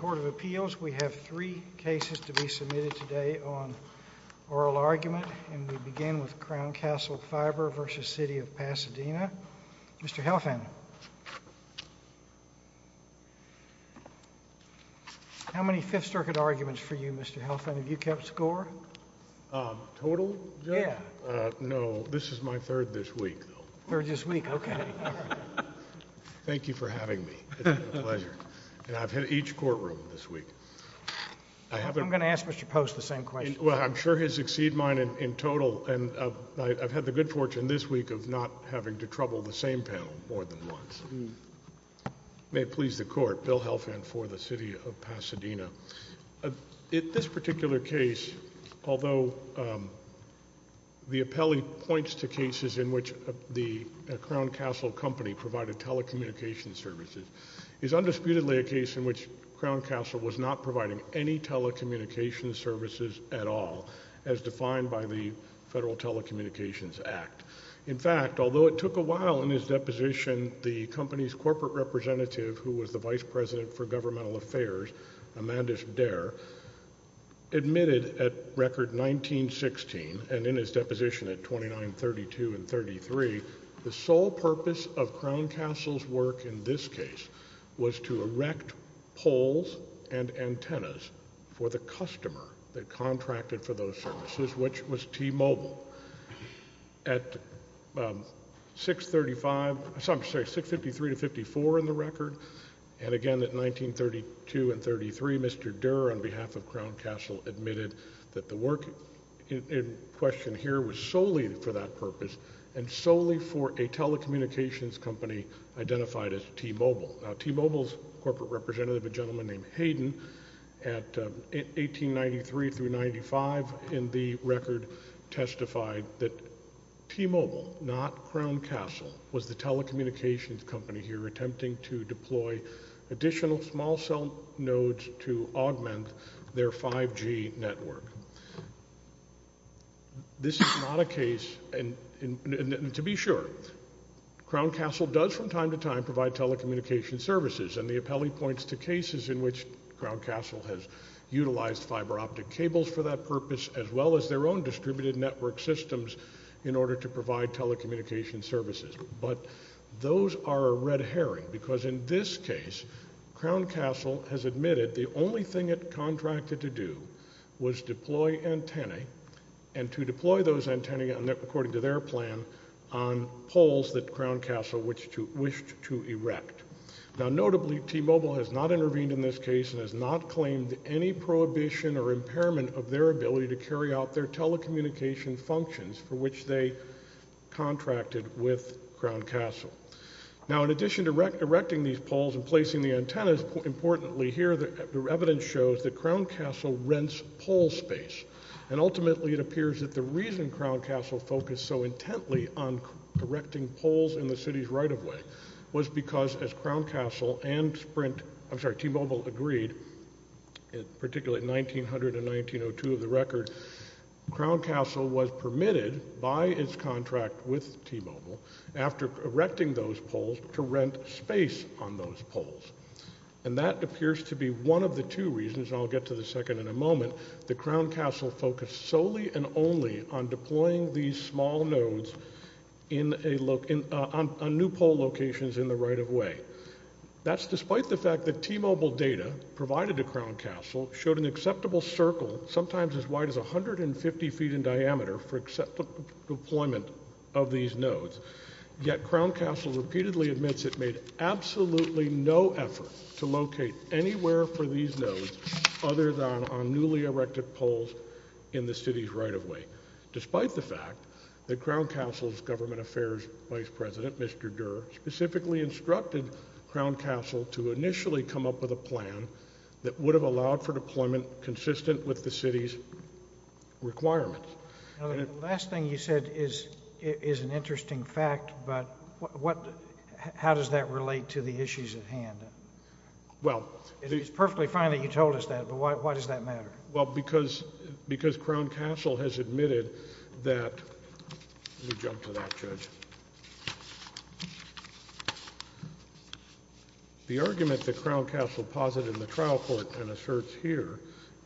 Court of Appeals we have three cases to be submitted today on oral argument and we begin with Crown Castle Fiber v. City of Pasadena. Mr. Helfand, how many Fifth Circuit arguments for you Mr. Helfand? Have you kept score? Total? Yeah. No, this is my third this week. Third this week, okay. Thank you for having me. It's been a pleasure. And I've hit each courtroom this week. I'm going to ask Mr. Post the same question. Well, I'm sure his exceed mine in total and I've had the good fortune this week of not having to trouble the same panel more than once. May it please the Court, Bill Helfand for the City of Pasadena. In this particular case, although the appellee points to cases in which the Crown Castle company provided telecommunications services, it's undisputedly a case in which Crown Castle was not providing any telecommunications services at all as defined by the Federal Telecommunications Act. In fact, although it took a while in his deposition, the company's corporate representative who was the Vice President for Governmental Affairs, Amanda Dare, admitted at Record 1916 and in his deposition at 2932 and 33, the sole purpose of Crown Castle's work in this case was to erect poles and antennas for the customer that contracted for those services, which was T-Mobile. At 653 to 654 in the record, and again at 1932 and 33, Mr. Dare on behalf of Crown Castle admitted that the work in question here was solely for that purpose and solely for a telecommunications company identified as T-Mobile. Now, T-Mobile's corporate representative, a gentleman named Hayden, at 1893 through 95 in the record, testified that T-Mobile, not Crown Castle, was the telecommunications company here attempting to deploy additional small cell nodes to augment their 5G network. This is not a case, and to be sure, Crown Castle does from time to time provide telecommunications services, and the appellee points to cases in which Crown Castle has utilized fiber optic cables for that purpose as well as their own distributed network systems in order to provide telecommunications services. But those are a red herring because in this case, Crown Castle has admitted the only thing it contracted to do was deploy antennae, and to deploy those antennae according to their plan on poles that Crown Castle wished to erect. Now, notably, T-Mobile has not intervened in this case and has not claimed any prohibition or impairment of their ability to carry out their telecommunications functions for which they contracted with Crown Castle. Now, in addition to erecting these poles and placing the antennas, importantly, here the evidence shows that Crown Castle rents pole space, and ultimately it appears that the reason Crown Castle focused so intently on erecting poles in the city's right-of-way was because as Crown Castle and Sprint, I'm sorry, T-Mobile agreed, particularly in 1900 and 1902 of the record, Crown Castle was permitted by its contract with T-Mobile, after erecting those poles, to rent space on those poles. And that appears to be one of the two reasons, and I'll get to the second in a moment, that Crown Castle focused solely and only on deploying these small nodes on new pole locations in the right-of-way. That's despite the fact that T-Mobile data provided to Crown Castle showed an acceptable circle, sometimes as wide as 150 feet in diameter, for acceptable deployment of these nodes, yet Crown Castle repeatedly admits it made absolutely no effort to locate anywhere for these nodes other than on newly erected poles in the city's right-of-way, despite the fact that Crown Castle's government affairs vice president, Mr. Durer, specifically instructed Crown Castle to initially come up with a plan that would have allowed for deployment consistent with the city's requirements. The last thing you said is an interesting fact, but how does that relate to the issues at hand? It's perfectly fine that you told us that, but why does that matter? Well, because Crown Castle has admitted that, let me jump to that, Judge. The argument that Crown Castle posited in the trial court and asserts here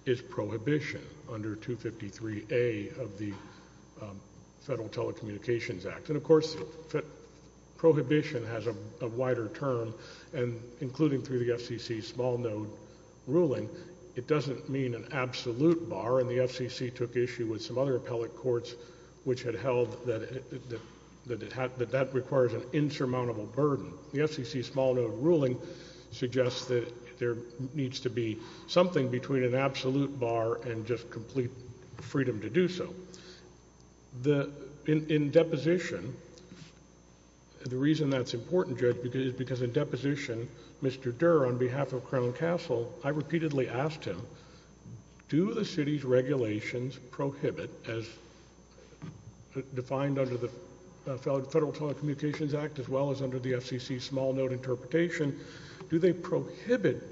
is prohibition under 253A of the Federal Telecommunications Act, and of course prohibition has a wider term, and including through the FCC's small node ruling, it doesn't mean an absolute bar, and the FCC took issue with some other appellate courts which had held that that requires an insurmountable burden. The FCC's small node ruling suggests that there needs to be something between an absolute bar and just complete freedom to do so. In deposition, the reason that's important, Judge, is because in deposition, Mr. Durer, on behalf of Crown Castle, I repeatedly asked him, do the city's regulations prohibit, as defined under the Federal Telecommunications Act as well as under the FCC's small node interpretation, do they prohibit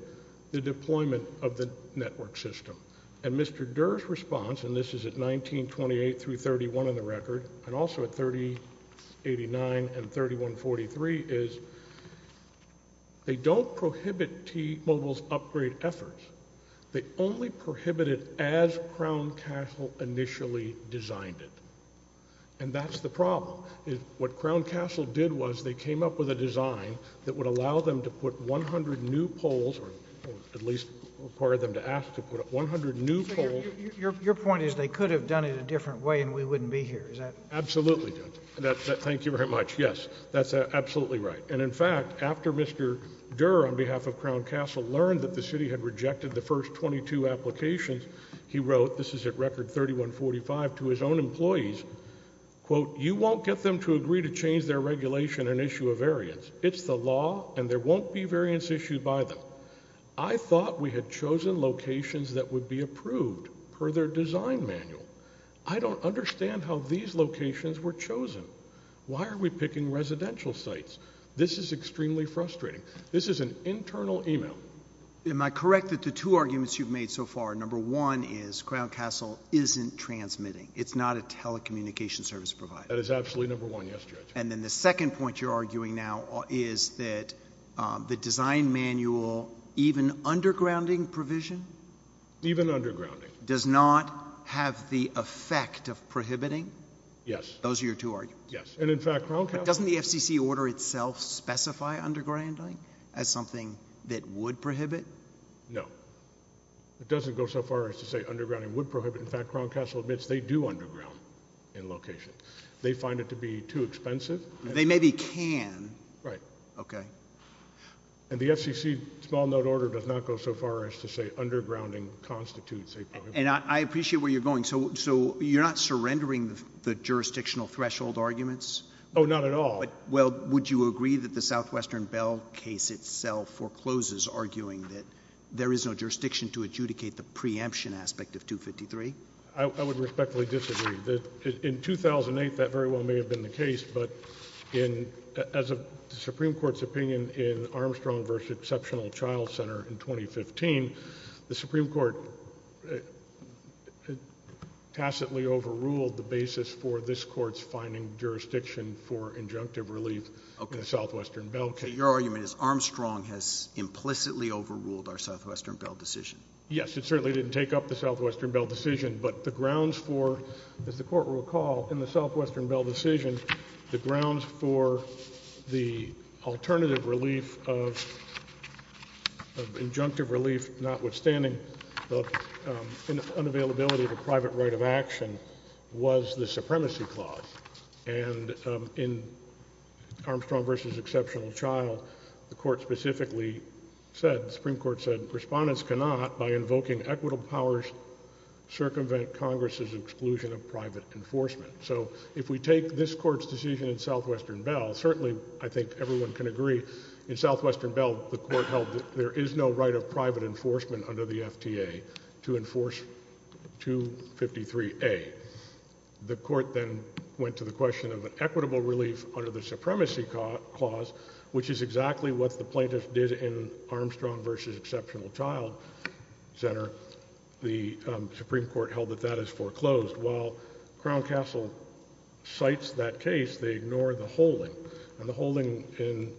the deployment of the network system? And Mr. Durer's response, and this is at 1928 through 1931 on the record, and also at 3089 and 3143, is they don't prohibit T-Mobile's upgrade efforts. They only prohibit it as Crown Castle initially designed it, and that's the problem. What Crown Castle did was they came up with a design that would allow them to put 100 new poles, or at least require them to ask to put 100 new poles. Your point is they could have done it a different way and we wouldn't be here, is that it? Absolutely, Judge. Thank you very much. Yes, that's absolutely right. And, in fact, after Mr. Durer, on behalf of Crown Castle, learned that the city had rejected the first 22 applications, he wrote, this is at record 3145, to his own employees, quote, you won't get them to agree to change their regulation and issue a variance. It's the law and there won't be variance issued by them. I thought we had chosen locations that would be approved per their design manual. I don't understand how these locations were chosen. Why are we picking residential sites? This is extremely frustrating. This is an internal email. Am I correct that the two arguments you've made so far, number one is Crown Castle isn't transmitting. It's not a telecommunications service provider. That is absolutely number one, yes, Judge. And then the second point you're arguing now is that the design manual, even undergrounding provision? Even undergrounding. Does not have the effect of prohibiting? Yes. Those are your two arguments. Yes. And, in fact, Crown Castle. But doesn't the FCC order itself specify undergrounding as something that would prohibit? No. It doesn't go so far as to say undergrounding would prohibit. In fact, Crown Castle admits they do underground in location. They find it to be too expensive. They maybe can. Right. Okay. And the FCC small note order does not go so far as to say undergrounding constitutes a prohibition. And I appreciate where you're going. So you're not surrendering the jurisdictional threshold arguments? Oh, not at all. Well, would you agree that the Southwestern Bell case itself forecloses arguing that there is no jurisdiction to adjudicate the preemption aspect of 253? I would respectfully disagree. In 2008, that very well may have been the case, but as of the Supreme Court's opinion in Armstrong v. Exceptional Child Center in 2015, the Supreme Court tacitly overruled the basis for this court's finding jurisdiction for injunctive relief in the Southwestern Bell case. Okay. So your argument is Armstrong has implicitly overruled our Southwestern Bell decision? Yes. It certainly didn't take up the Southwestern Bell decision, but the grounds for, as the Court will recall, in the Southwestern Bell decision, the grounds for the alternative relief of injunctive relief notwithstanding the unavailability of a private right of action was the supremacy clause. And in Armstrong v. Exceptional Child, the Court specifically said, the Supreme Court said, Respondents cannot, by invoking equitable powers, circumvent Congress's exclusion of private enforcement. So if we take this Court's decision in Southwestern Bell, certainly I think everyone can agree, in Southwestern Bell, the Court held that there is no right of private enforcement under the FTA to enforce 253A. The Court then went to the question of an equitable relief under the supremacy clause, which is exactly what the plaintiffs did in Armstrong v. Exceptional Child Center. The Supreme Court held that that is foreclosed. While Crown Castle cites that case, they ignore the holding. And the holding in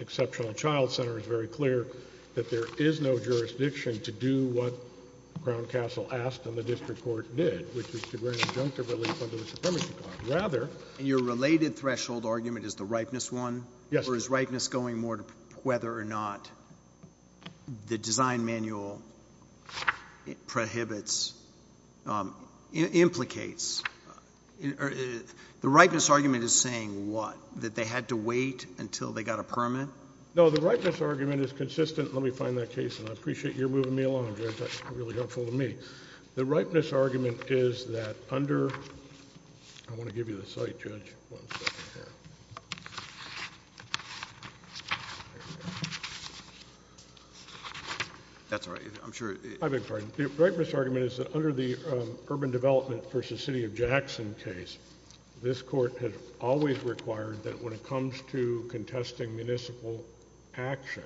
Exceptional Child Center is very clear that there is no jurisdiction to do what Crown Castle asked and the district court did, which was to grant injunctive relief under the supremacy clause. Your related threshold argument is the ripeness one? Yes. Or is ripeness going more to whether or not the design manual prohibits, implicates? The ripeness argument is saying what? That they had to wait until they got a permit? No, the ripeness argument is consistent. Let me find that case, and I appreciate you're moving me along, Judge. That's really helpful to me. The ripeness argument is that under the urban development v. City of Jackson case, this Court has always required that when it comes to contesting municipal action,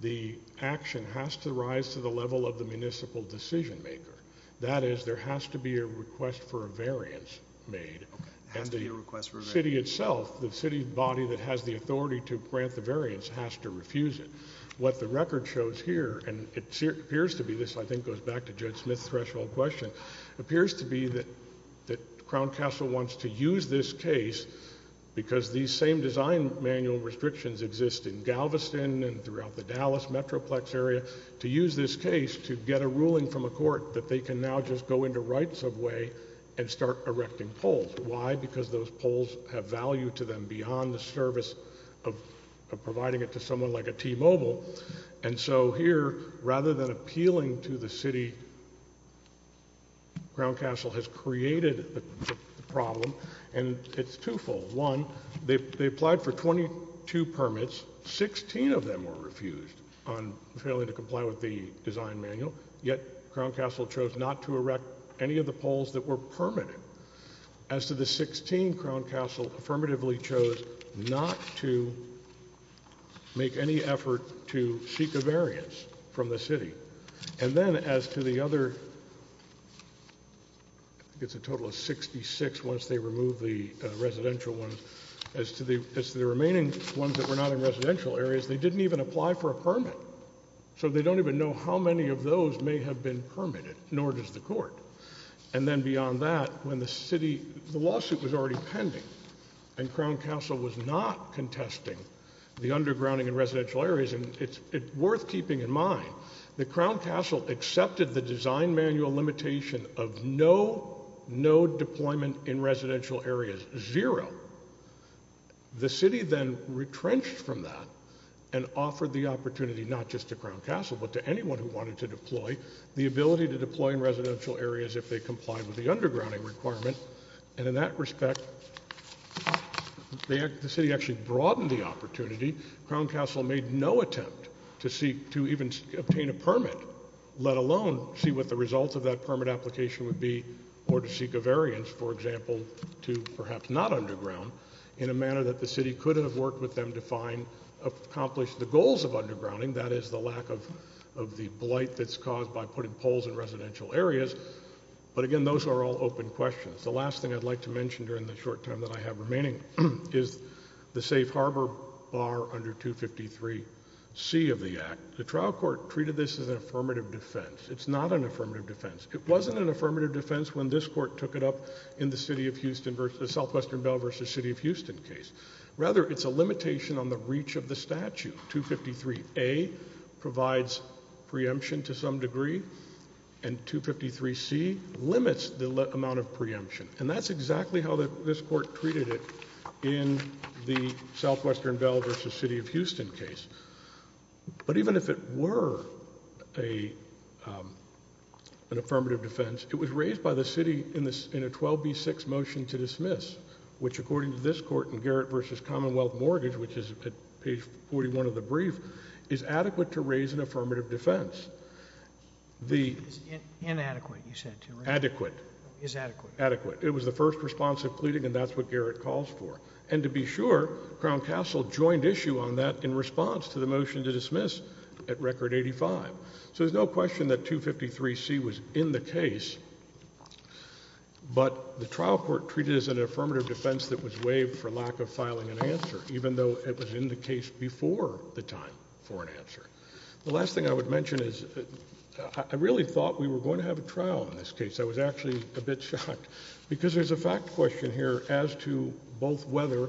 the action has to rise to the level of the municipal decision-makers. That is, there has to be a request for a variance made. Okay. It has to be a request for a variance. And the city itself, the city body that has the authority to grant the variance, has to refuse it. What the record shows here, and it appears to be this, I think it goes back to Judge Smith's threshold question, appears to be that Crown Castle wants to use this case, because these same design manual restrictions exist in Galveston, and throughout the Dallas metroplex area, to use this case to get a ruling from a court that they can now just go into Wright Subway and start erecting poles. Why? Because those poles have value to them beyond the service of providing it to someone like a T-Mobile, and so here, rather than appealing to the city, Crown Castle has created the problem, and it's twofold. One, they applied for 22 permits, 16 of them were refused on failing to comply with the design manual, yet Crown Castle chose not to erect any of the poles that were permitted. As to the 16, Crown Castle affirmatively chose not to make any effort to seek a variance from the city. And then as to the other, I think it's a total of 66 once they remove the residential ones, as to the remaining ones that were not in residential areas, they didn't even apply for a permit. So they don't even know how many of those may have been permitted, nor does the court. And then beyond that, when the city, the lawsuit was already pending, and Crown Castle was not contesting the undergrounding in residential areas, and it's worth keeping in mind that Crown Castle accepted the design manual limitation of no, no deployment in residential areas, zero. The city then retrenched from that, and offered the opportunity not just to Crown Castle, but to anyone who wanted to deploy, the ability to deploy in residential areas if they complied with the undergrounding requirement, and in that respect, the city actually broadened the opportunity. Crown Castle made no attempt to even obtain a permit, let alone see what the result of that permit application would be, or to seek a variance, for example, to perhaps not underground, in a manner that the city could have worked with them to accomplish the goals of undergrounding, that is the lack of the blight that's caused by putting poles in residential areas. But again, those are all open questions. The last thing I'd like to mention during the short time that I have remaining is the safe harbor bar under 253C of the Act. The trial court treated this as an affirmative defense. It's not an affirmative defense. It wasn't an affirmative defense when this court took it up in the City of Houston versus, the Southwestern Bell versus City of Houston case. Rather, it's a limitation on the reach of the statute. 253A provides preemption to some degree, and 253C limits the amount of preemption. And that's exactly how this court treated it in the Southwestern Bell versus City of Houston case. But even if it were an affirmative defense, it was raised by the city in a 12B6 motion to dismiss, which according to this court in Garrett versus Commonwealth Mortgage, which is at page 41 of the brief, is adequate to raise an affirmative defense. Inadequate, you said, too, right? Adequate. Is adequate. Adequate. It was the first response of pleading, and that's what Garrett calls for. And to be sure, Crown Castle joined issue on that in response to the motion to dismiss at Record 85. So there's no question that 253C was in the case, but the trial court treated it as an affirmative defense that was waived for lack of filing an answer, even though it was in the case before the time for an answer. The last thing I would mention is I really thought we were going to have a trial in this case. I was actually a bit shocked because there's a fact question here as to both whether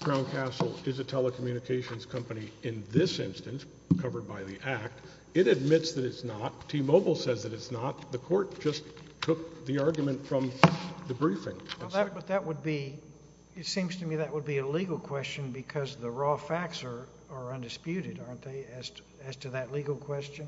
Crown Castle is a telecommunications company in this instance covered by the Act. It admits that it's not. T-Mobile says that it's not. Well, that would be – it seems to me that would be a legal question because the raw facts are undisputed, aren't they, as to that legal question?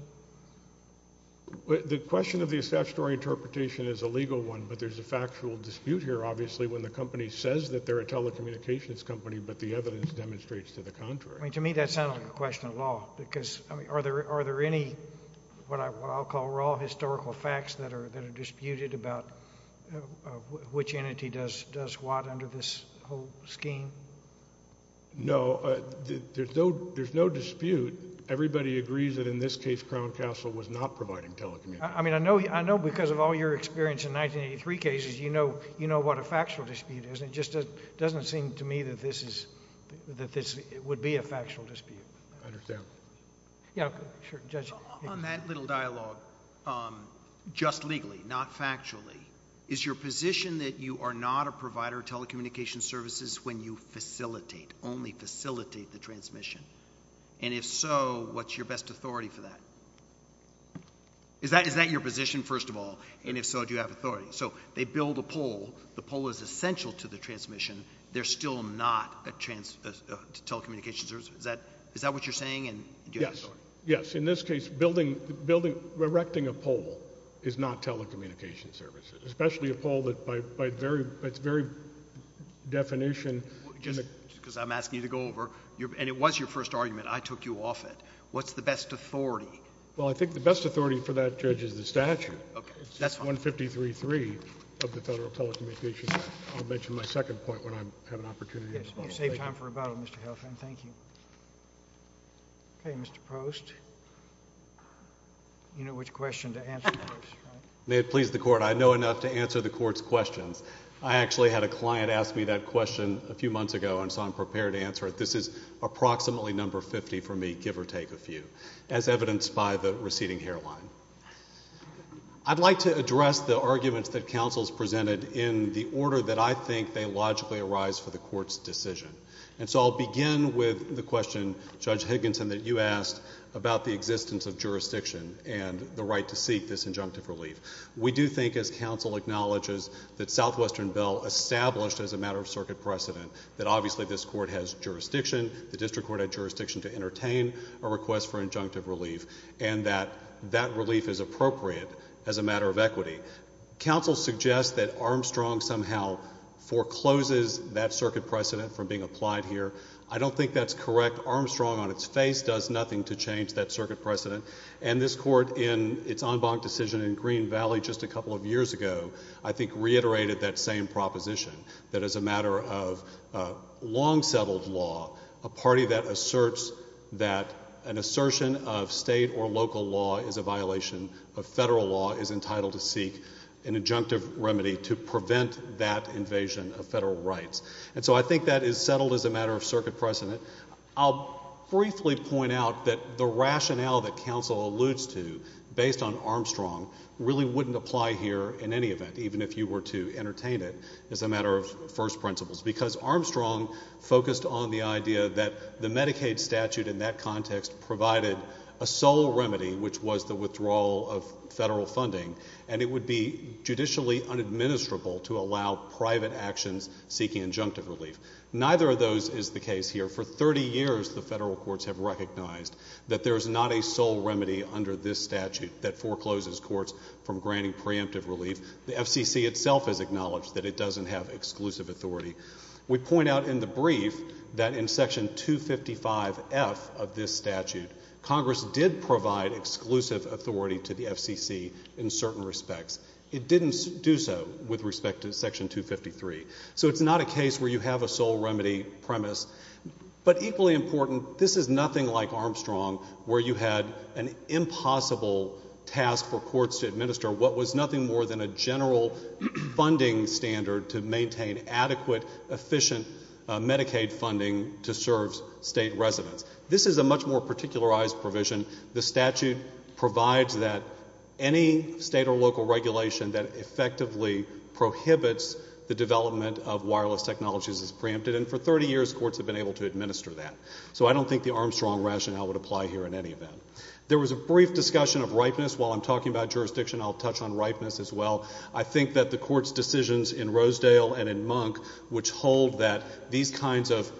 The question of the statutory interpretation is a legal one, but there's a factual dispute here, obviously, when the company says that they're a telecommunications company but the evidence demonstrates to the contrary. I mean, to me that sounds like a question of law because, I mean, are there any what I'll call raw historical facts that are disputed about which entity does what under this whole scheme? No. There's no dispute. Everybody agrees that in this case Crown Castle was not providing telecommunications. I mean, I know because of all your experience in 1983 cases you know what a factual dispute is. It just doesn't seem to me that this is – that this would be a factual dispute. I understand. Yeah, sure. Judge. On that little dialogue, just legally, not factually, is your position that you are not a provider of telecommunications services when you facilitate, only facilitate the transmission? And if so, what's your best authority for that? Is that your position, first of all? And if so, do you have authority? So they build a pole. The pole is essential to the transmission. They're still not a telecommunications service. Is that what you're saying? Yes. Yes. In this case, erecting a pole is not telecommunications services, especially a pole that by its very definition – because I'm asking you to go over – and it was your first argument. I took you off it. What's the best authority? Well, I think the best authority for that, Judge, is the statute. Okay. That's fine. It's 153.3 of the Federal Telecommunications Act. I'll mention my second point when I have an opportunity. Yes. You saved time for rebuttal, Mr. Helfand. Thank you. Okay, Mr. Post. You know which question to answer first, right? May it please the Court. I know enough to answer the Court's questions. I actually had a client ask me that question a few months ago, and so I'm prepared to answer it. This is approximately number 50 for me, give or take a few, as evidenced by the receding hairline. I'd like to address the arguments that counsels presented in the order that I think they logically arise for the Court's decision. And so I'll begin with the question, Judge Higginson, that you asked about the existence of jurisdiction and the right to seek this injunctive relief. We do think, as counsel acknowledges, that Southwestern Bell established as a matter of circuit precedent that obviously this court has jurisdiction, the district court had jurisdiction to entertain a request for injunctive relief, and that that relief is appropriate as a matter of equity. Counsel suggests that Armstrong somehow forecloses that circuit precedent from being applied here. I don't think that's correct. Armstrong on its face does nothing to change that circuit precedent. And this court in its en banc decision in Green Valley just a couple of years ago I think reiterated that same proposition, that as a matter of long-settled law, a party that asserts that an assertion of state or local law is a violation of federal law is entitled to seek an injunctive remedy to prevent that invasion of federal rights. And so I think that is settled as a matter of circuit precedent. I'll briefly point out that the rationale that counsel alludes to based on Armstrong really wouldn't apply here in any event, even if you were to entertain it as a matter of first principles, because Armstrong focused on the idea that the Medicaid statute in that context provided a sole remedy, which was the withdrawal of federal funding, and it would be judicially unadministrable to allow private actions seeking injunctive relief. Neither of those is the case here. For 30 years the federal courts have recognized that there is not a sole remedy under this statute that forecloses courts from granting preemptive relief. The FCC itself has acknowledged that it doesn't have exclusive authority. We point out in the brief that in Section 255F of this statute, Congress did provide exclusive authority to the FCC in certain respects. It didn't do so with respect to Section 253. So it's not a case where you have a sole remedy premise. But equally important, this is nothing like Armstrong, where you had an impossible task for courts to administer what was nothing more than a general funding standard to maintain adequate, efficient Medicaid funding to serve state residents. This is a much more particularized provision. The statute provides that any state or local regulation that effectively prohibits the development of wireless technologies is preempted, and for 30 years courts have been able to administer that. So I don't think the Armstrong rationale would apply here in any event. There was a brief discussion of ripeness. While I'm talking about jurisdiction, I'll touch on ripeness as well. I think that the court's decisions in Rosedale and in Monk, which hold that these kinds of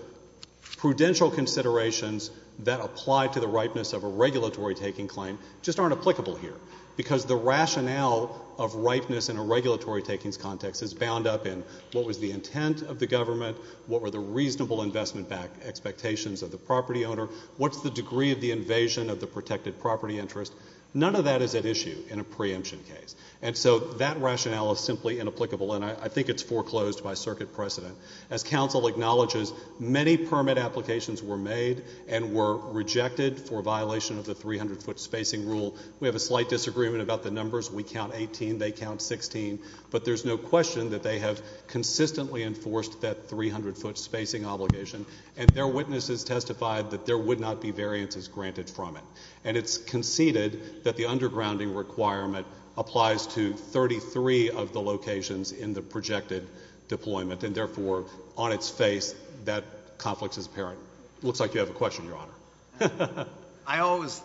prudential considerations that apply to the ripeness of a regulatory-taking claim just aren't applicable here, because the rationale of ripeness in a regulatory-taking context is bound up in what was the intent of the government, what were the reasonable investment-backed expectations of the property owner, what's the degree of the invasion of the protected property interest. None of that is at issue in a preemption case. And so that rationale is simply inapplicable, and I think it's foreclosed by circuit precedent. As council acknowledges, many permit applications were made and were rejected for violation of the 300-foot spacing rule. We have a slight disagreement about the numbers. We count 18. They count 16. But there's no question that they have consistently enforced that 300-foot spacing obligation, and their witnesses testified that there would not be variances granted from it. And it's conceded that the undergrounding requirement applies to 33 of the locations in the projected deployment, and therefore on its face that conflict is apparent. It looks like you have a question, Your Honor. I always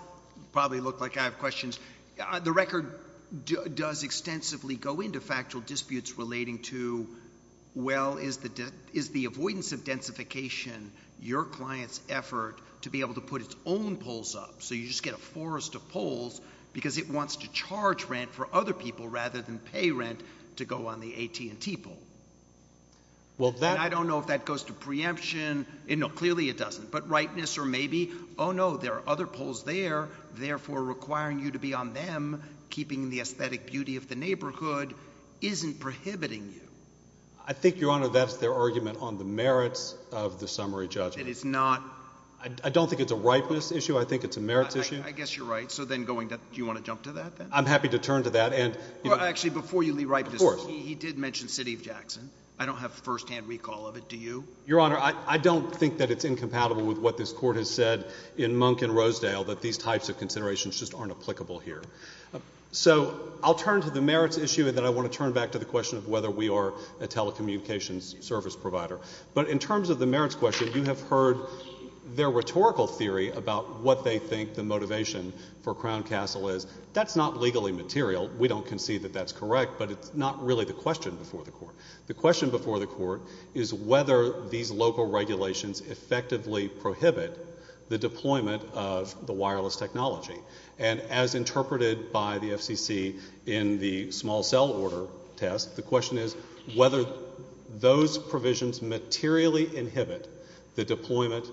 probably look like I have questions. The record does extensively go into factual disputes relating to, well, is the avoidance of densification your client's effort to be able to put its own poles up? So you just get a forest of poles because it wants to charge rent for other people rather than pay rent to go on the AT&T pole. And I don't know if that goes to preemption. No, clearly it doesn't. But ripeness or maybe, oh, no, there are other poles there, therefore requiring you to be on them, keeping the aesthetic beauty of the neighborhood isn't prohibiting you. I think, Your Honor, that's their argument on the merits of the summary judgment. It is not. I don't think it's a ripeness issue. I think it's a merits issue. I guess you're right. So then going to do you want to jump to that then? I'm happy to turn to that. Actually, before you leave ripeness, he did mention City of Jackson. I don't have firsthand recall of it. Do you? Your Honor, I don't think that it's incompatible with what this Court has said in Monk and Rosedale, that these types of considerations just aren't applicable here. So I'll turn to the merits issue, and then I want to turn back to the question of whether we are a telecommunications service provider. But in terms of the merits question, you have heard their rhetorical theory about what they think the motivation for Crown Castle is. That's not legally material. We don't concede that that's correct, but it's not really the question before the Court. The question before the Court is whether these local regulations effectively prohibit the deployment of the wireless technology. And as interpreted by the FCC in the small cell order test, the question is whether those provisions materially inhibit the deployment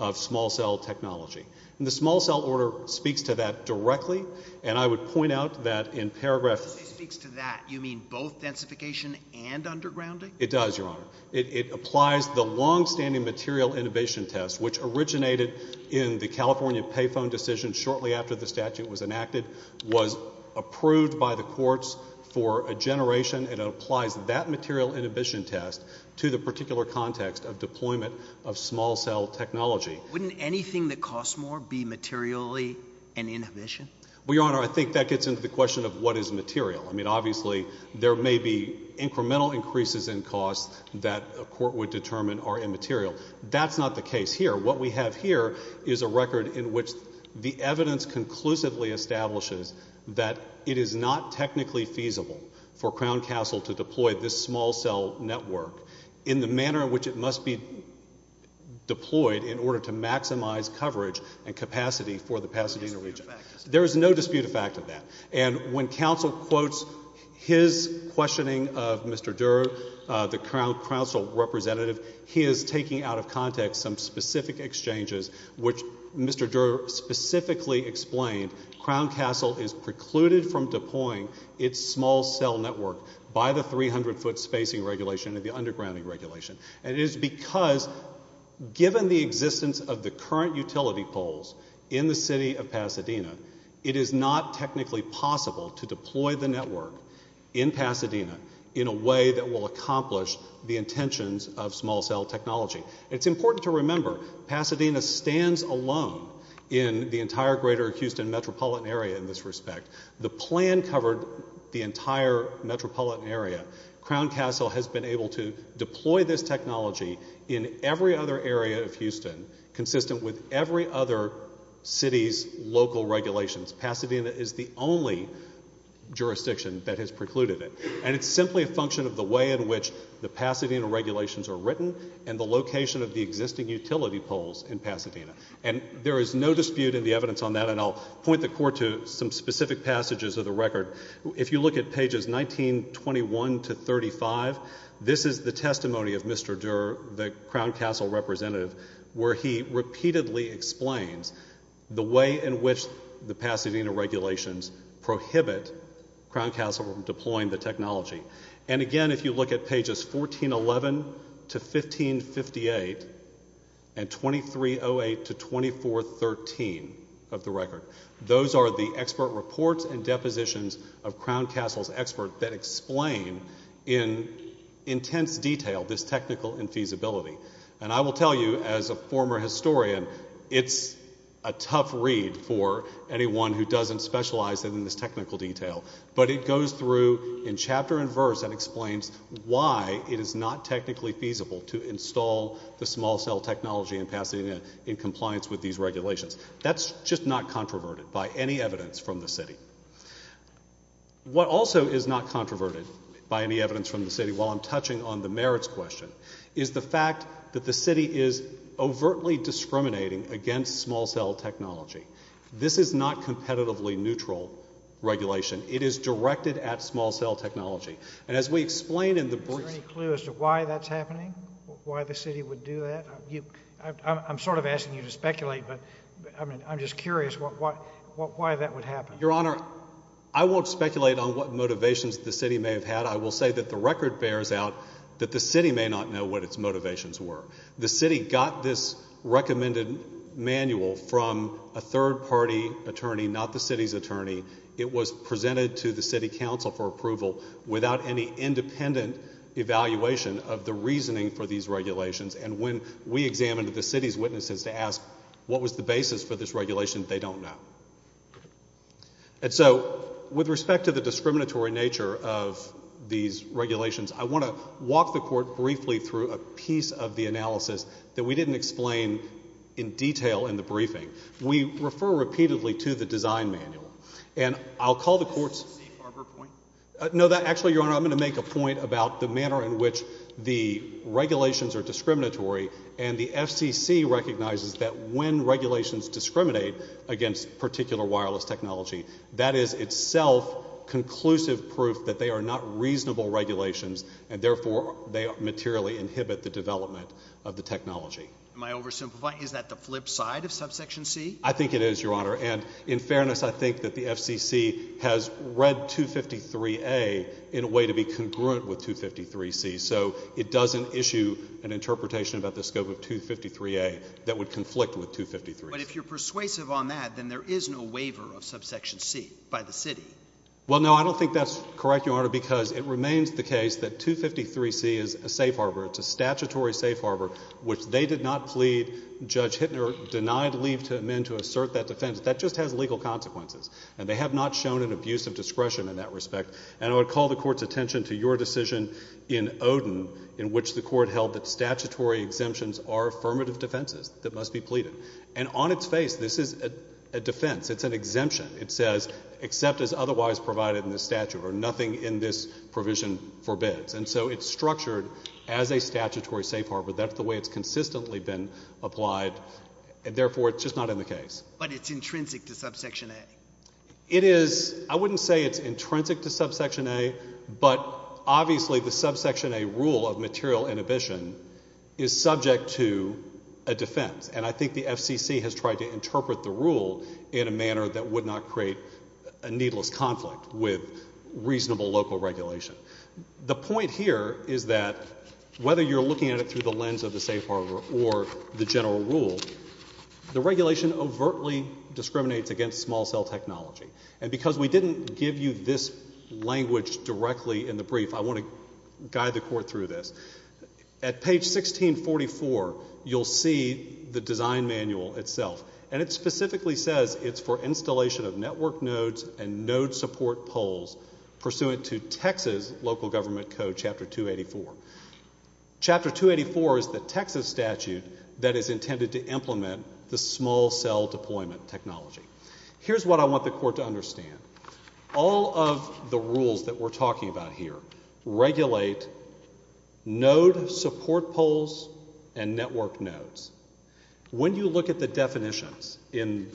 of small cell technology. And the small cell order speaks to that directly, and I would point out that in paragraph 3. When you say speaks to that, you mean both densification and undergrounding? It does, Your Honor. It applies the longstanding material inhibition test, which originated in the California payphone decision shortly after the statute was enacted, was approved by the courts for a generation, and it applies that material inhibition test to the particular context of deployment of small cell technology. Wouldn't anything that costs more be materially an inhibition? Well, Your Honor, I think that gets into the question of what is material. I mean, obviously there may be incremental increases in costs that a court would determine are immaterial. That's not the case here. What we have here is a record in which the evidence conclusively establishes that it is not technically feasible for Crown Castle to deploy this small cell network in the manner in which it must be deployed in order to maximize coverage and capacity for the Pasadena region. There is no dispute of fact of that. And when counsel quotes his questioning of Mr. Durer, the Crown Council representative, he is taking out of context some specific exchanges which Mr. Durer specifically explained Crown Castle is precluded from deploying its small cell network by the 300-foot spacing regulation and the undergrounding regulation. And it is because given the existence of the current utility poles in the city of Pasadena, it is not technically possible to deploy the network in Pasadena in a way that will accomplish the intentions of small cell technology. It's important to remember Pasadena stands alone in the entire greater Houston metropolitan area in this respect. The plan covered the entire metropolitan area. Crown Castle has been able to deploy this technology in every other area of Houston consistent with every other city's local regulations. Pasadena is the only jurisdiction that has precluded it. And it's simply a function of the way in which the Pasadena regulations are written and the location of the existing utility poles in Pasadena. And there is no dispute in the evidence on that, and I'll point the court to some specific passages of the record. If you look at pages 1921 to 35, this is the testimony of Mr. Durer, the Crown Castle representative, where he repeatedly explains the way in which the Pasadena regulations prohibit Crown Castle from deploying the technology. And again, if you look at pages 1411 to 1558 and 2308 to 2413 of the record, those are the expert reports and depositions of Crown Castle's experts that explain in intense detail this technical infeasibility. And I will tell you, as a former historian, it's a tough read for anyone who doesn't specialize in this technical detail. But it goes through in chapter and verse and explains why it is not technically feasible to install the small cell technology in Pasadena in compliance with these regulations. That's just not controverted by any evidence from the city. What also is not controverted by any evidence from the city, while I'm touching on the merits question, is the fact that the city is overtly discriminating against small cell technology. This is not competitively neutral regulation. It is directed at small cell technology. And as we explain in the brief... Is there any clue as to why that's happening, why the city would do that? I'm sort of asking you to speculate, but I'm just curious why that would happen. Your Honor, I won't speculate on what motivations the city may have had. I will say that the record bears out that the city may not know what its motivations were. The city got this recommended manual from a third-party attorney, not the city's attorney. It was presented to the city council for approval without any independent evaluation of the reasoning for these regulations. And when we examined the city's witnesses to ask what was the basis for this regulation, they don't know. And so with respect to the discriminatory nature of these regulations, I want to walk the Court briefly through a piece of the analysis that we didn't explain in detail in the briefing. We refer repeatedly to the design manual. And I'll call the Court's... Is this a C-Farber point? No, actually, Your Honor, I'm going to make a point about the manner in which the regulations are discriminatory, and the FCC recognizes that when regulations discriminate against particular wireless technology, that is itself conclusive proof that they are not reasonable regulations and therefore they materially inhibit the development of the technology. Am I oversimplifying? Is that the flip side of Subsection C? I think it is, Your Honor. And in fairness, I think that the FCC has read 253A in a way to be congruent with 253C, so it doesn't issue an interpretation about the scope of 253A that would conflict with 253A. But if you're persuasive on that, then there is no waiver of Subsection C by the city. Well, no, I don't think that's correct, Your Honor, because it remains the case that 253C is a safe harbor. It's a statutory safe harbor, which they did not plead. Judge Hittner denied leave to amend to assert that defense. That just has legal consequences, and they have not shown an abuse of discretion in that respect. And I would call the Court's attention to your decision in Odin, in which the Court held that statutory exemptions are affirmative defenses that must be pleaded. And on its face, this is a defense. It's an exemption. It says except as otherwise provided in the statute or nothing in this provision forbids. And so it's structured as a statutory safe harbor. That's the way it's consistently been applied. Therefore, it's just not in the case. But it's intrinsic to Subsection A. It is. I wouldn't say it's intrinsic to Subsection A, but obviously the Subsection A rule of material inhibition is subject to a defense. And I think the FCC has tried to interpret the rule in a manner that would not create a needless conflict with reasonable local regulation. The point here is that whether you're looking at it through the lens of the safe harbor or the general rule, the regulation overtly discriminates against small cell technology. And because we didn't give you this language directly in the brief, I want to guide the Court through this. At page 1644, you'll see the design manual itself, and it specifically says it's for installation of network nodes and node support poles pursuant to Texas local government code Chapter 284. Chapter 284 is the Texas statute that is intended to implement the small cell deployment technology. Here's what I want the Court to understand. All of the rules that we're talking about here regulate node support poles and network nodes. When you look at the definitions in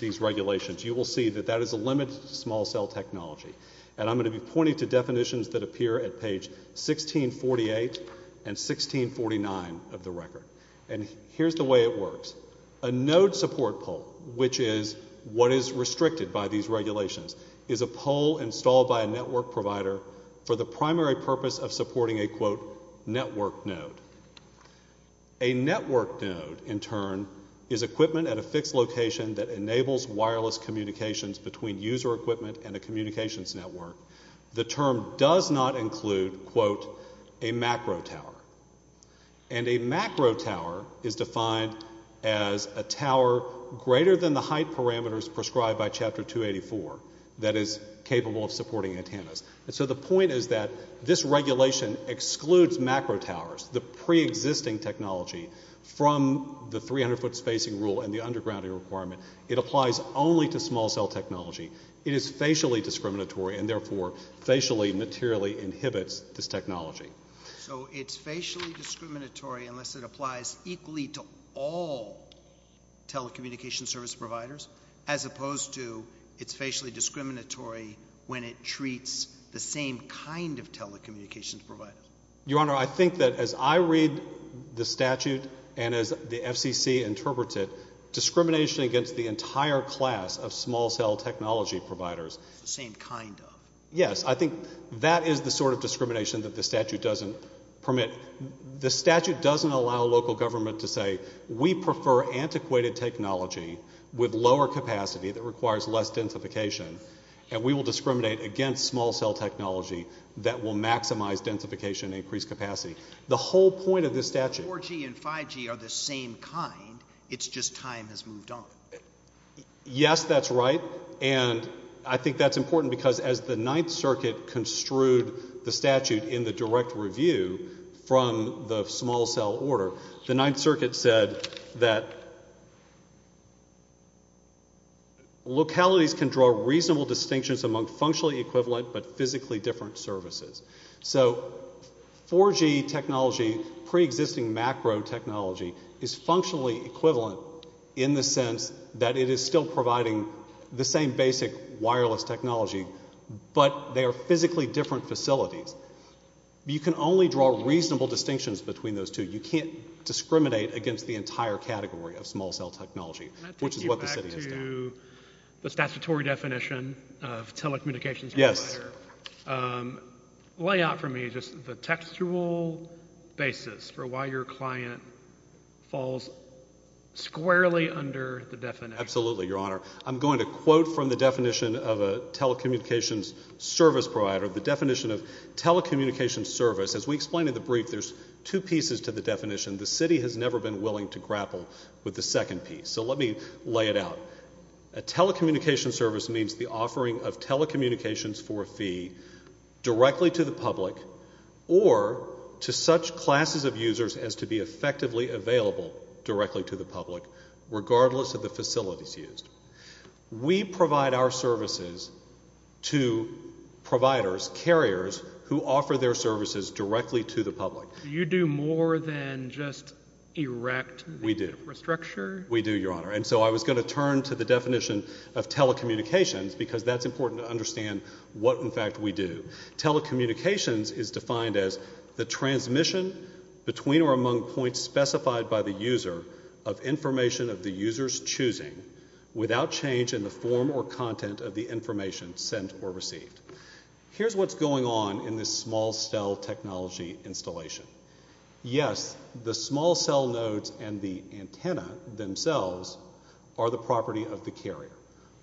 these regulations, you will see that that is a limit to small cell technology. And I'm going to be pointing to definitions that appear at page 1648 and 1649 of the record. And here's the way it works. A node support pole, which is what is restricted by these regulations, is a pole installed by a network provider for the primary purpose of supporting a, quote, network node. A network node, in turn, is equipment at a fixed location that enables wireless communications between user equipment and a communications network. The term does not include, quote, a macro tower. And a macro tower is defined as a tower greater than the height parameters prescribed by Chapter 284 that is capable of supporting antennas. And so the point is that this regulation excludes macro towers, the preexisting technology, from the 300-foot spacing rule and the underground requirement. It applies only to small cell technology. It is facially discriminatory and, therefore, facially, materially inhibits this technology. So it's facially discriminatory unless it applies equally to all telecommunications service providers as opposed to it's facially discriminatory when it treats the same kind of telecommunications providers. Your Honor, I think that as I read the statute and as the FCC interprets it, discrimination against the entire class of small cell technology providers. The same kind of. Yes, I think that is the sort of discrimination that the statute doesn't permit. The statute doesn't allow local government to say, we prefer antiquated technology with lower capacity that requires less densification and we will discriminate against small cell technology that will maximize densification and increase capacity. The whole point of this statute. 4G and 5G are the same kind. It's just time has moved on. Yes, that's right. And I think that's important because as the Ninth Circuit construed the statute in the direct review from the small cell order, the Ninth Circuit said that localities can draw reasonable distinctions among functionally equivalent but physically different services. So 4G technology, pre-existing macro technology, is functionally equivalent in the sense that it is still providing the same basic wireless technology but they are physically different facilities. You can only draw reasonable distinctions between those two. You can't discriminate against the entire category of small cell technology, which is what the city is doing. Can I take you back to the statutory definition of telecommunications provider? Yes. Lay out for me just the textual basis for why your client falls squarely under the definition. Absolutely, Your Honor. I'm going to quote from the definition of a telecommunications service provider, the definition of telecommunications service. As we explained in the brief, there's two pieces to the definition. The city has never been willing to grapple with the second piece. So let me lay it out. A telecommunications service means the offering of telecommunications for a fee directly to the public or to such classes of users as to be effectively available directly to the public, regardless of the facilities used. We provide our services to providers, carriers, who offer their services directly to the public. You do more than just erect the infrastructure? We do. We do, Your Honor. And so I was going to turn to the definition of telecommunications because that's important to understand what, in fact, we do. Telecommunications is defined as the transmission between or among points specified by the user of information of the user's choosing, without change in the form or content of the information sent or received. Here's what's going on in this small cell technology installation. Yes, the small cell nodes and the antenna themselves are the property of the carrier.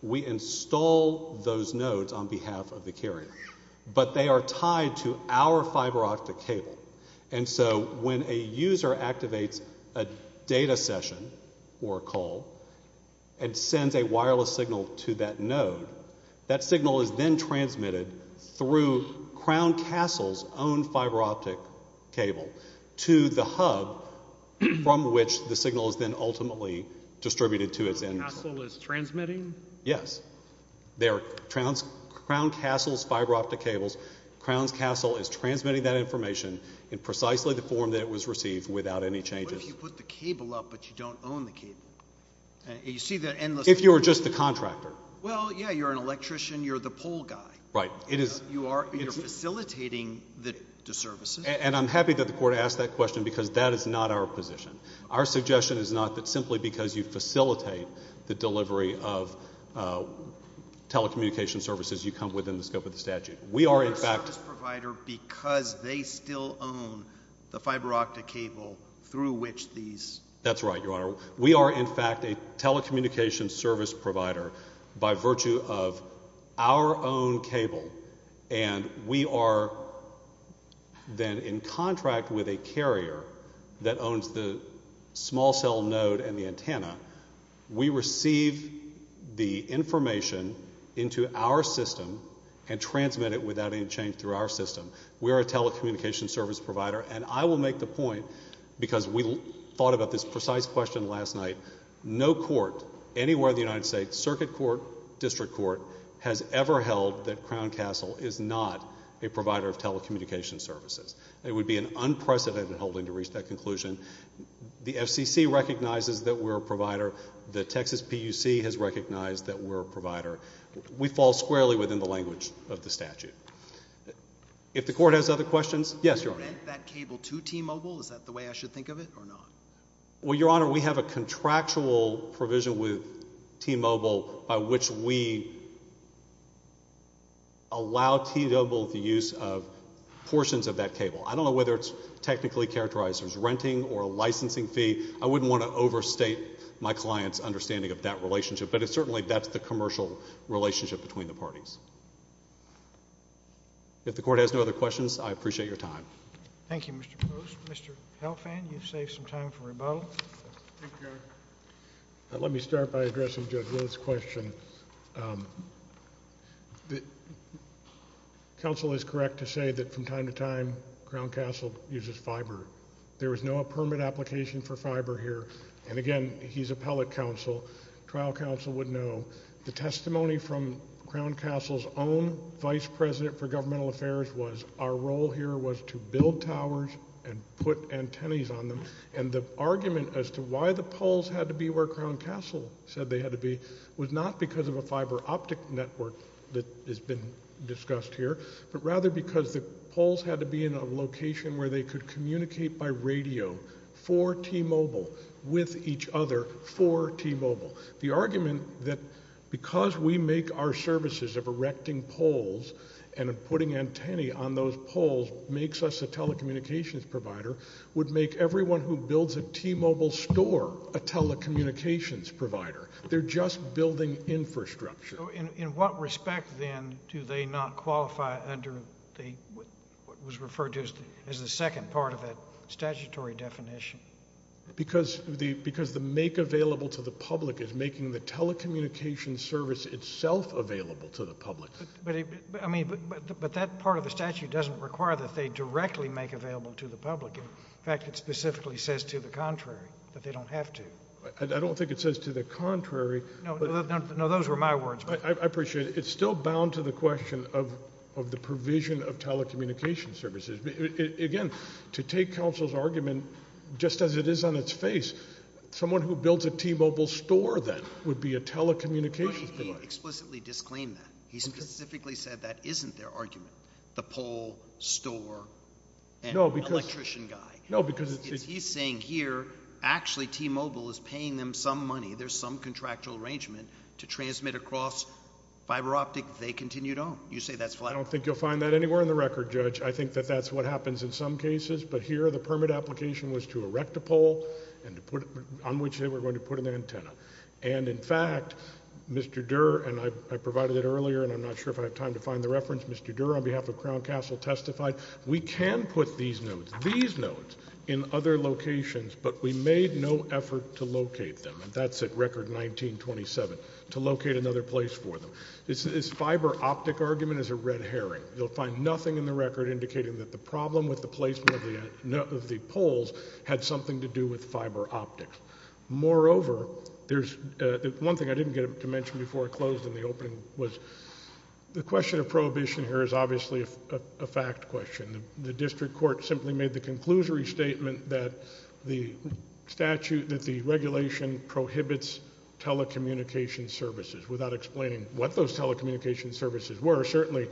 We install those nodes on behalf of the carrier. But they are tied to our fiber optic cable. And so when a user activates a data session or a call and sends a wireless signal to that node, that signal is then transmitted through Crown Castle's own fiber optic cable to the hub from which the signal is then ultimately distributed to its end. Crown Castle is transmitting? Yes. They are Crown Castle's fiber optic cables. Crown Castle is transmitting that information in precisely the form that it was received without any changes. What if you put the cable up but you don't own the cable? If you're just the contractor? Well, yeah, you're an electrician. You're the pole guy. Right. You are facilitating the services. And I'm happy that the court asked that question because that is not our position. Our suggestion is not that simply because you facilitate the delivery of telecommunication services, you come within the scope of the statute. We are, in fact— You're a service provider because they still own the fiber optic cable through which these— That's right, Your Honor. We are, in fact, a telecommunication service provider by virtue of our own cable, and we are then in contract with a carrier that owns the small cell node and the antenna. We receive the information into our system and transmit it without any change through our system. We are a telecommunication service provider, and I will make the point because we thought about this precise question last night. No court anywhere in the United States, circuit court, district court, has ever held that Crown Castle is not a provider of telecommunication services. It would be an unprecedented holding to reach that conclusion. The FCC recognizes that we're a provider. The Texas PUC has recognized that we're a provider. We fall squarely within the language of the statute. If the court has other questions— Yes, Your Honor. Do you rent that cable to T-Mobile? Is that the way I should think of it or not? Well, Your Honor, we have a contractual provision with T-Mobile by which we allow T-Mobile the use of portions of that cable. I don't know whether it's technically characterized as renting or a licensing fee. I wouldn't want to overstate my client's understanding of that relationship, but certainly that's the commercial relationship between the parties. If the court has no other questions, I appreciate your time. Thank you, Mr. Post. Mr. Helfand, you've saved some time for rebuttal. Thank you, Your Honor. Let me start by addressing Judge Wood's question. Counsel is correct to say that from time to time, Crown Castle uses fiber. There was no permit application for fiber here, and again, he's appellate counsel. Trial counsel would know. The testimony from Crown Castle's own vice president for governmental affairs was our role here was to build towers and put antennas on them, and the argument as to why the poles had to be where Crown Castle said they had to be was not because of a fiber optic network that has been discussed here, but rather because the poles had to be in a location where they could communicate by radio for T-Mobile with each other for T-Mobile. The argument that because we make our services of erecting poles and putting antennae on those poles makes us a telecommunications provider would make everyone who builds a T-Mobile store a telecommunications provider. They're just building infrastructure. In what respect, then, do they not qualify under what was referred to as the second part of it, statutory definition? Because the make available to the public is making the telecommunications service itself available to the public. But that part of the statute doesn't require that they directly make available to the public. In fact, it specifically says to the contrary that they don't have to. I don't think it says to the contrary. No, those were my words. I appreciate it. It's still bound to the question of the provision of telecommunications services. Again, to take counsel's argument just as it is on its face, someone who builds a T-Mobile store, then, would be a telecommunications provider. But he explicitly disclaimed that. He specifically said that isn't their argument, the pole, store, and electrician guy. No, because it's... He's saying here actually T-Mobile is paying them some money. There's some contractual arrangement to transmit across fiber optic. They continue to own. You say that's flat. Well, I don't think you'll find that anywhere in the record, Judge. I think that that's what happens in some cases. But here the permit application was to erect a pole on which they were going to put an antenna. And, in fact, Mr. Durer, and I provided it earlier, and I'm not sure if I have time to find the reference, Mr. Durer, on behalf of Crown Castle, testified, we can put these nodes, these nodes, in other locations, but we made no effort to locate them. That's at record 1927, to locate another place for them. This fiber optic argument is a red herring. You'll find nothing in the record indicating that the problem with the placement of the poles had something to do with fiber optics. Moreover, there's one thing I didn't get to mention before I closed in the opening was the question of prohibition here is obviously a fact question. The district court simply made the conclusory statement that the statute, that the regulation prohibits telecommunication services without explaining what those telecommunication services were. Certainly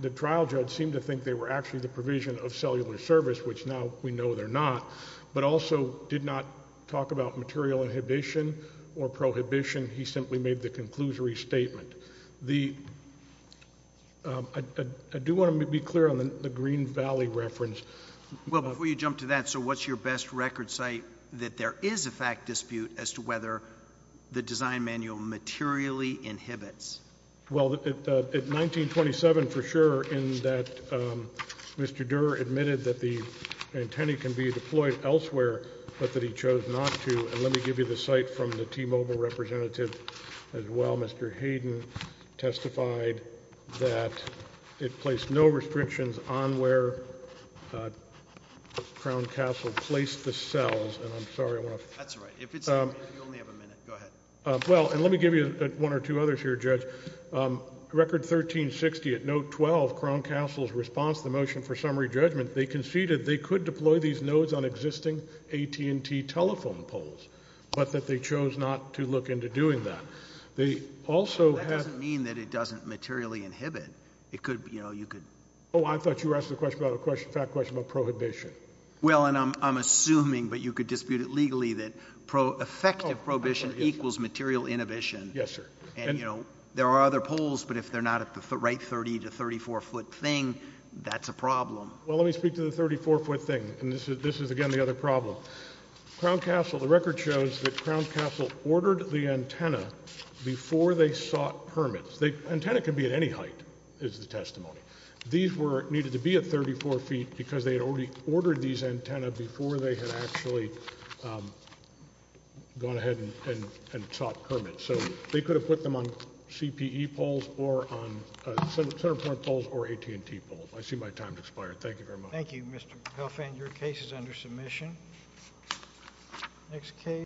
the trial judge seemed to think they were actually the provision of cellular service, which now we know they're not, but also did not talk about material inhibition or prohibition. He simply made the conclusory statement. I do want to be clear on the Green Valley reference. Well, before you jump to that, what's your best record site that there is a fact dispute as to whether the design manual materially inhibits? Well, at 1927, for sure, in that Mr. Durer admitted that the antennae can be deployed elsewhere, but that he chose not to. Let me give you the site from the T-Mobile representative as well. Mr. Hayden testified that it placed no restrictions on where Crown Castle placed the cells. And I'm sorry, I want to- That's all right. You only have a minute. Go ahead. Well, and let me give you one or two others here, Judge. Record 1360 at note 12, Crown Castle's response to the motion for summary judgment, they conceded they could deploy these nodes on existing AT&T telephone poles, but that they chose not to look into doing that. They also had- That doesn't mean that it doesn't materially inhibit. It could, you know, you could- Oh, I thought you were asking a question about a fact question about prohibition. Well, and I'm assuming, but you could dispute it legally, that effective prohibition equals material inhibition. Yes, sir. And, you know, there are other poles, but if they're not at the right 30 to 34-foot thing, that's a problem. Well, let me speak to the 34-foot thing, and this is, again, the other problem. Crown Castle, the record shows that Crown Castle ordered the antenna before they sought permits. The antenna can be at any height, is the testimony. These needed to be at 34 feet because they had already ordered these antenna before they had actually gone ahead and sought permits. So they could have put them on CPE poles or on center point poles or AT&T poles. I see my time has expired. Thank you very much. Thank you, Mr. Huff. And your case is under submission. Next case.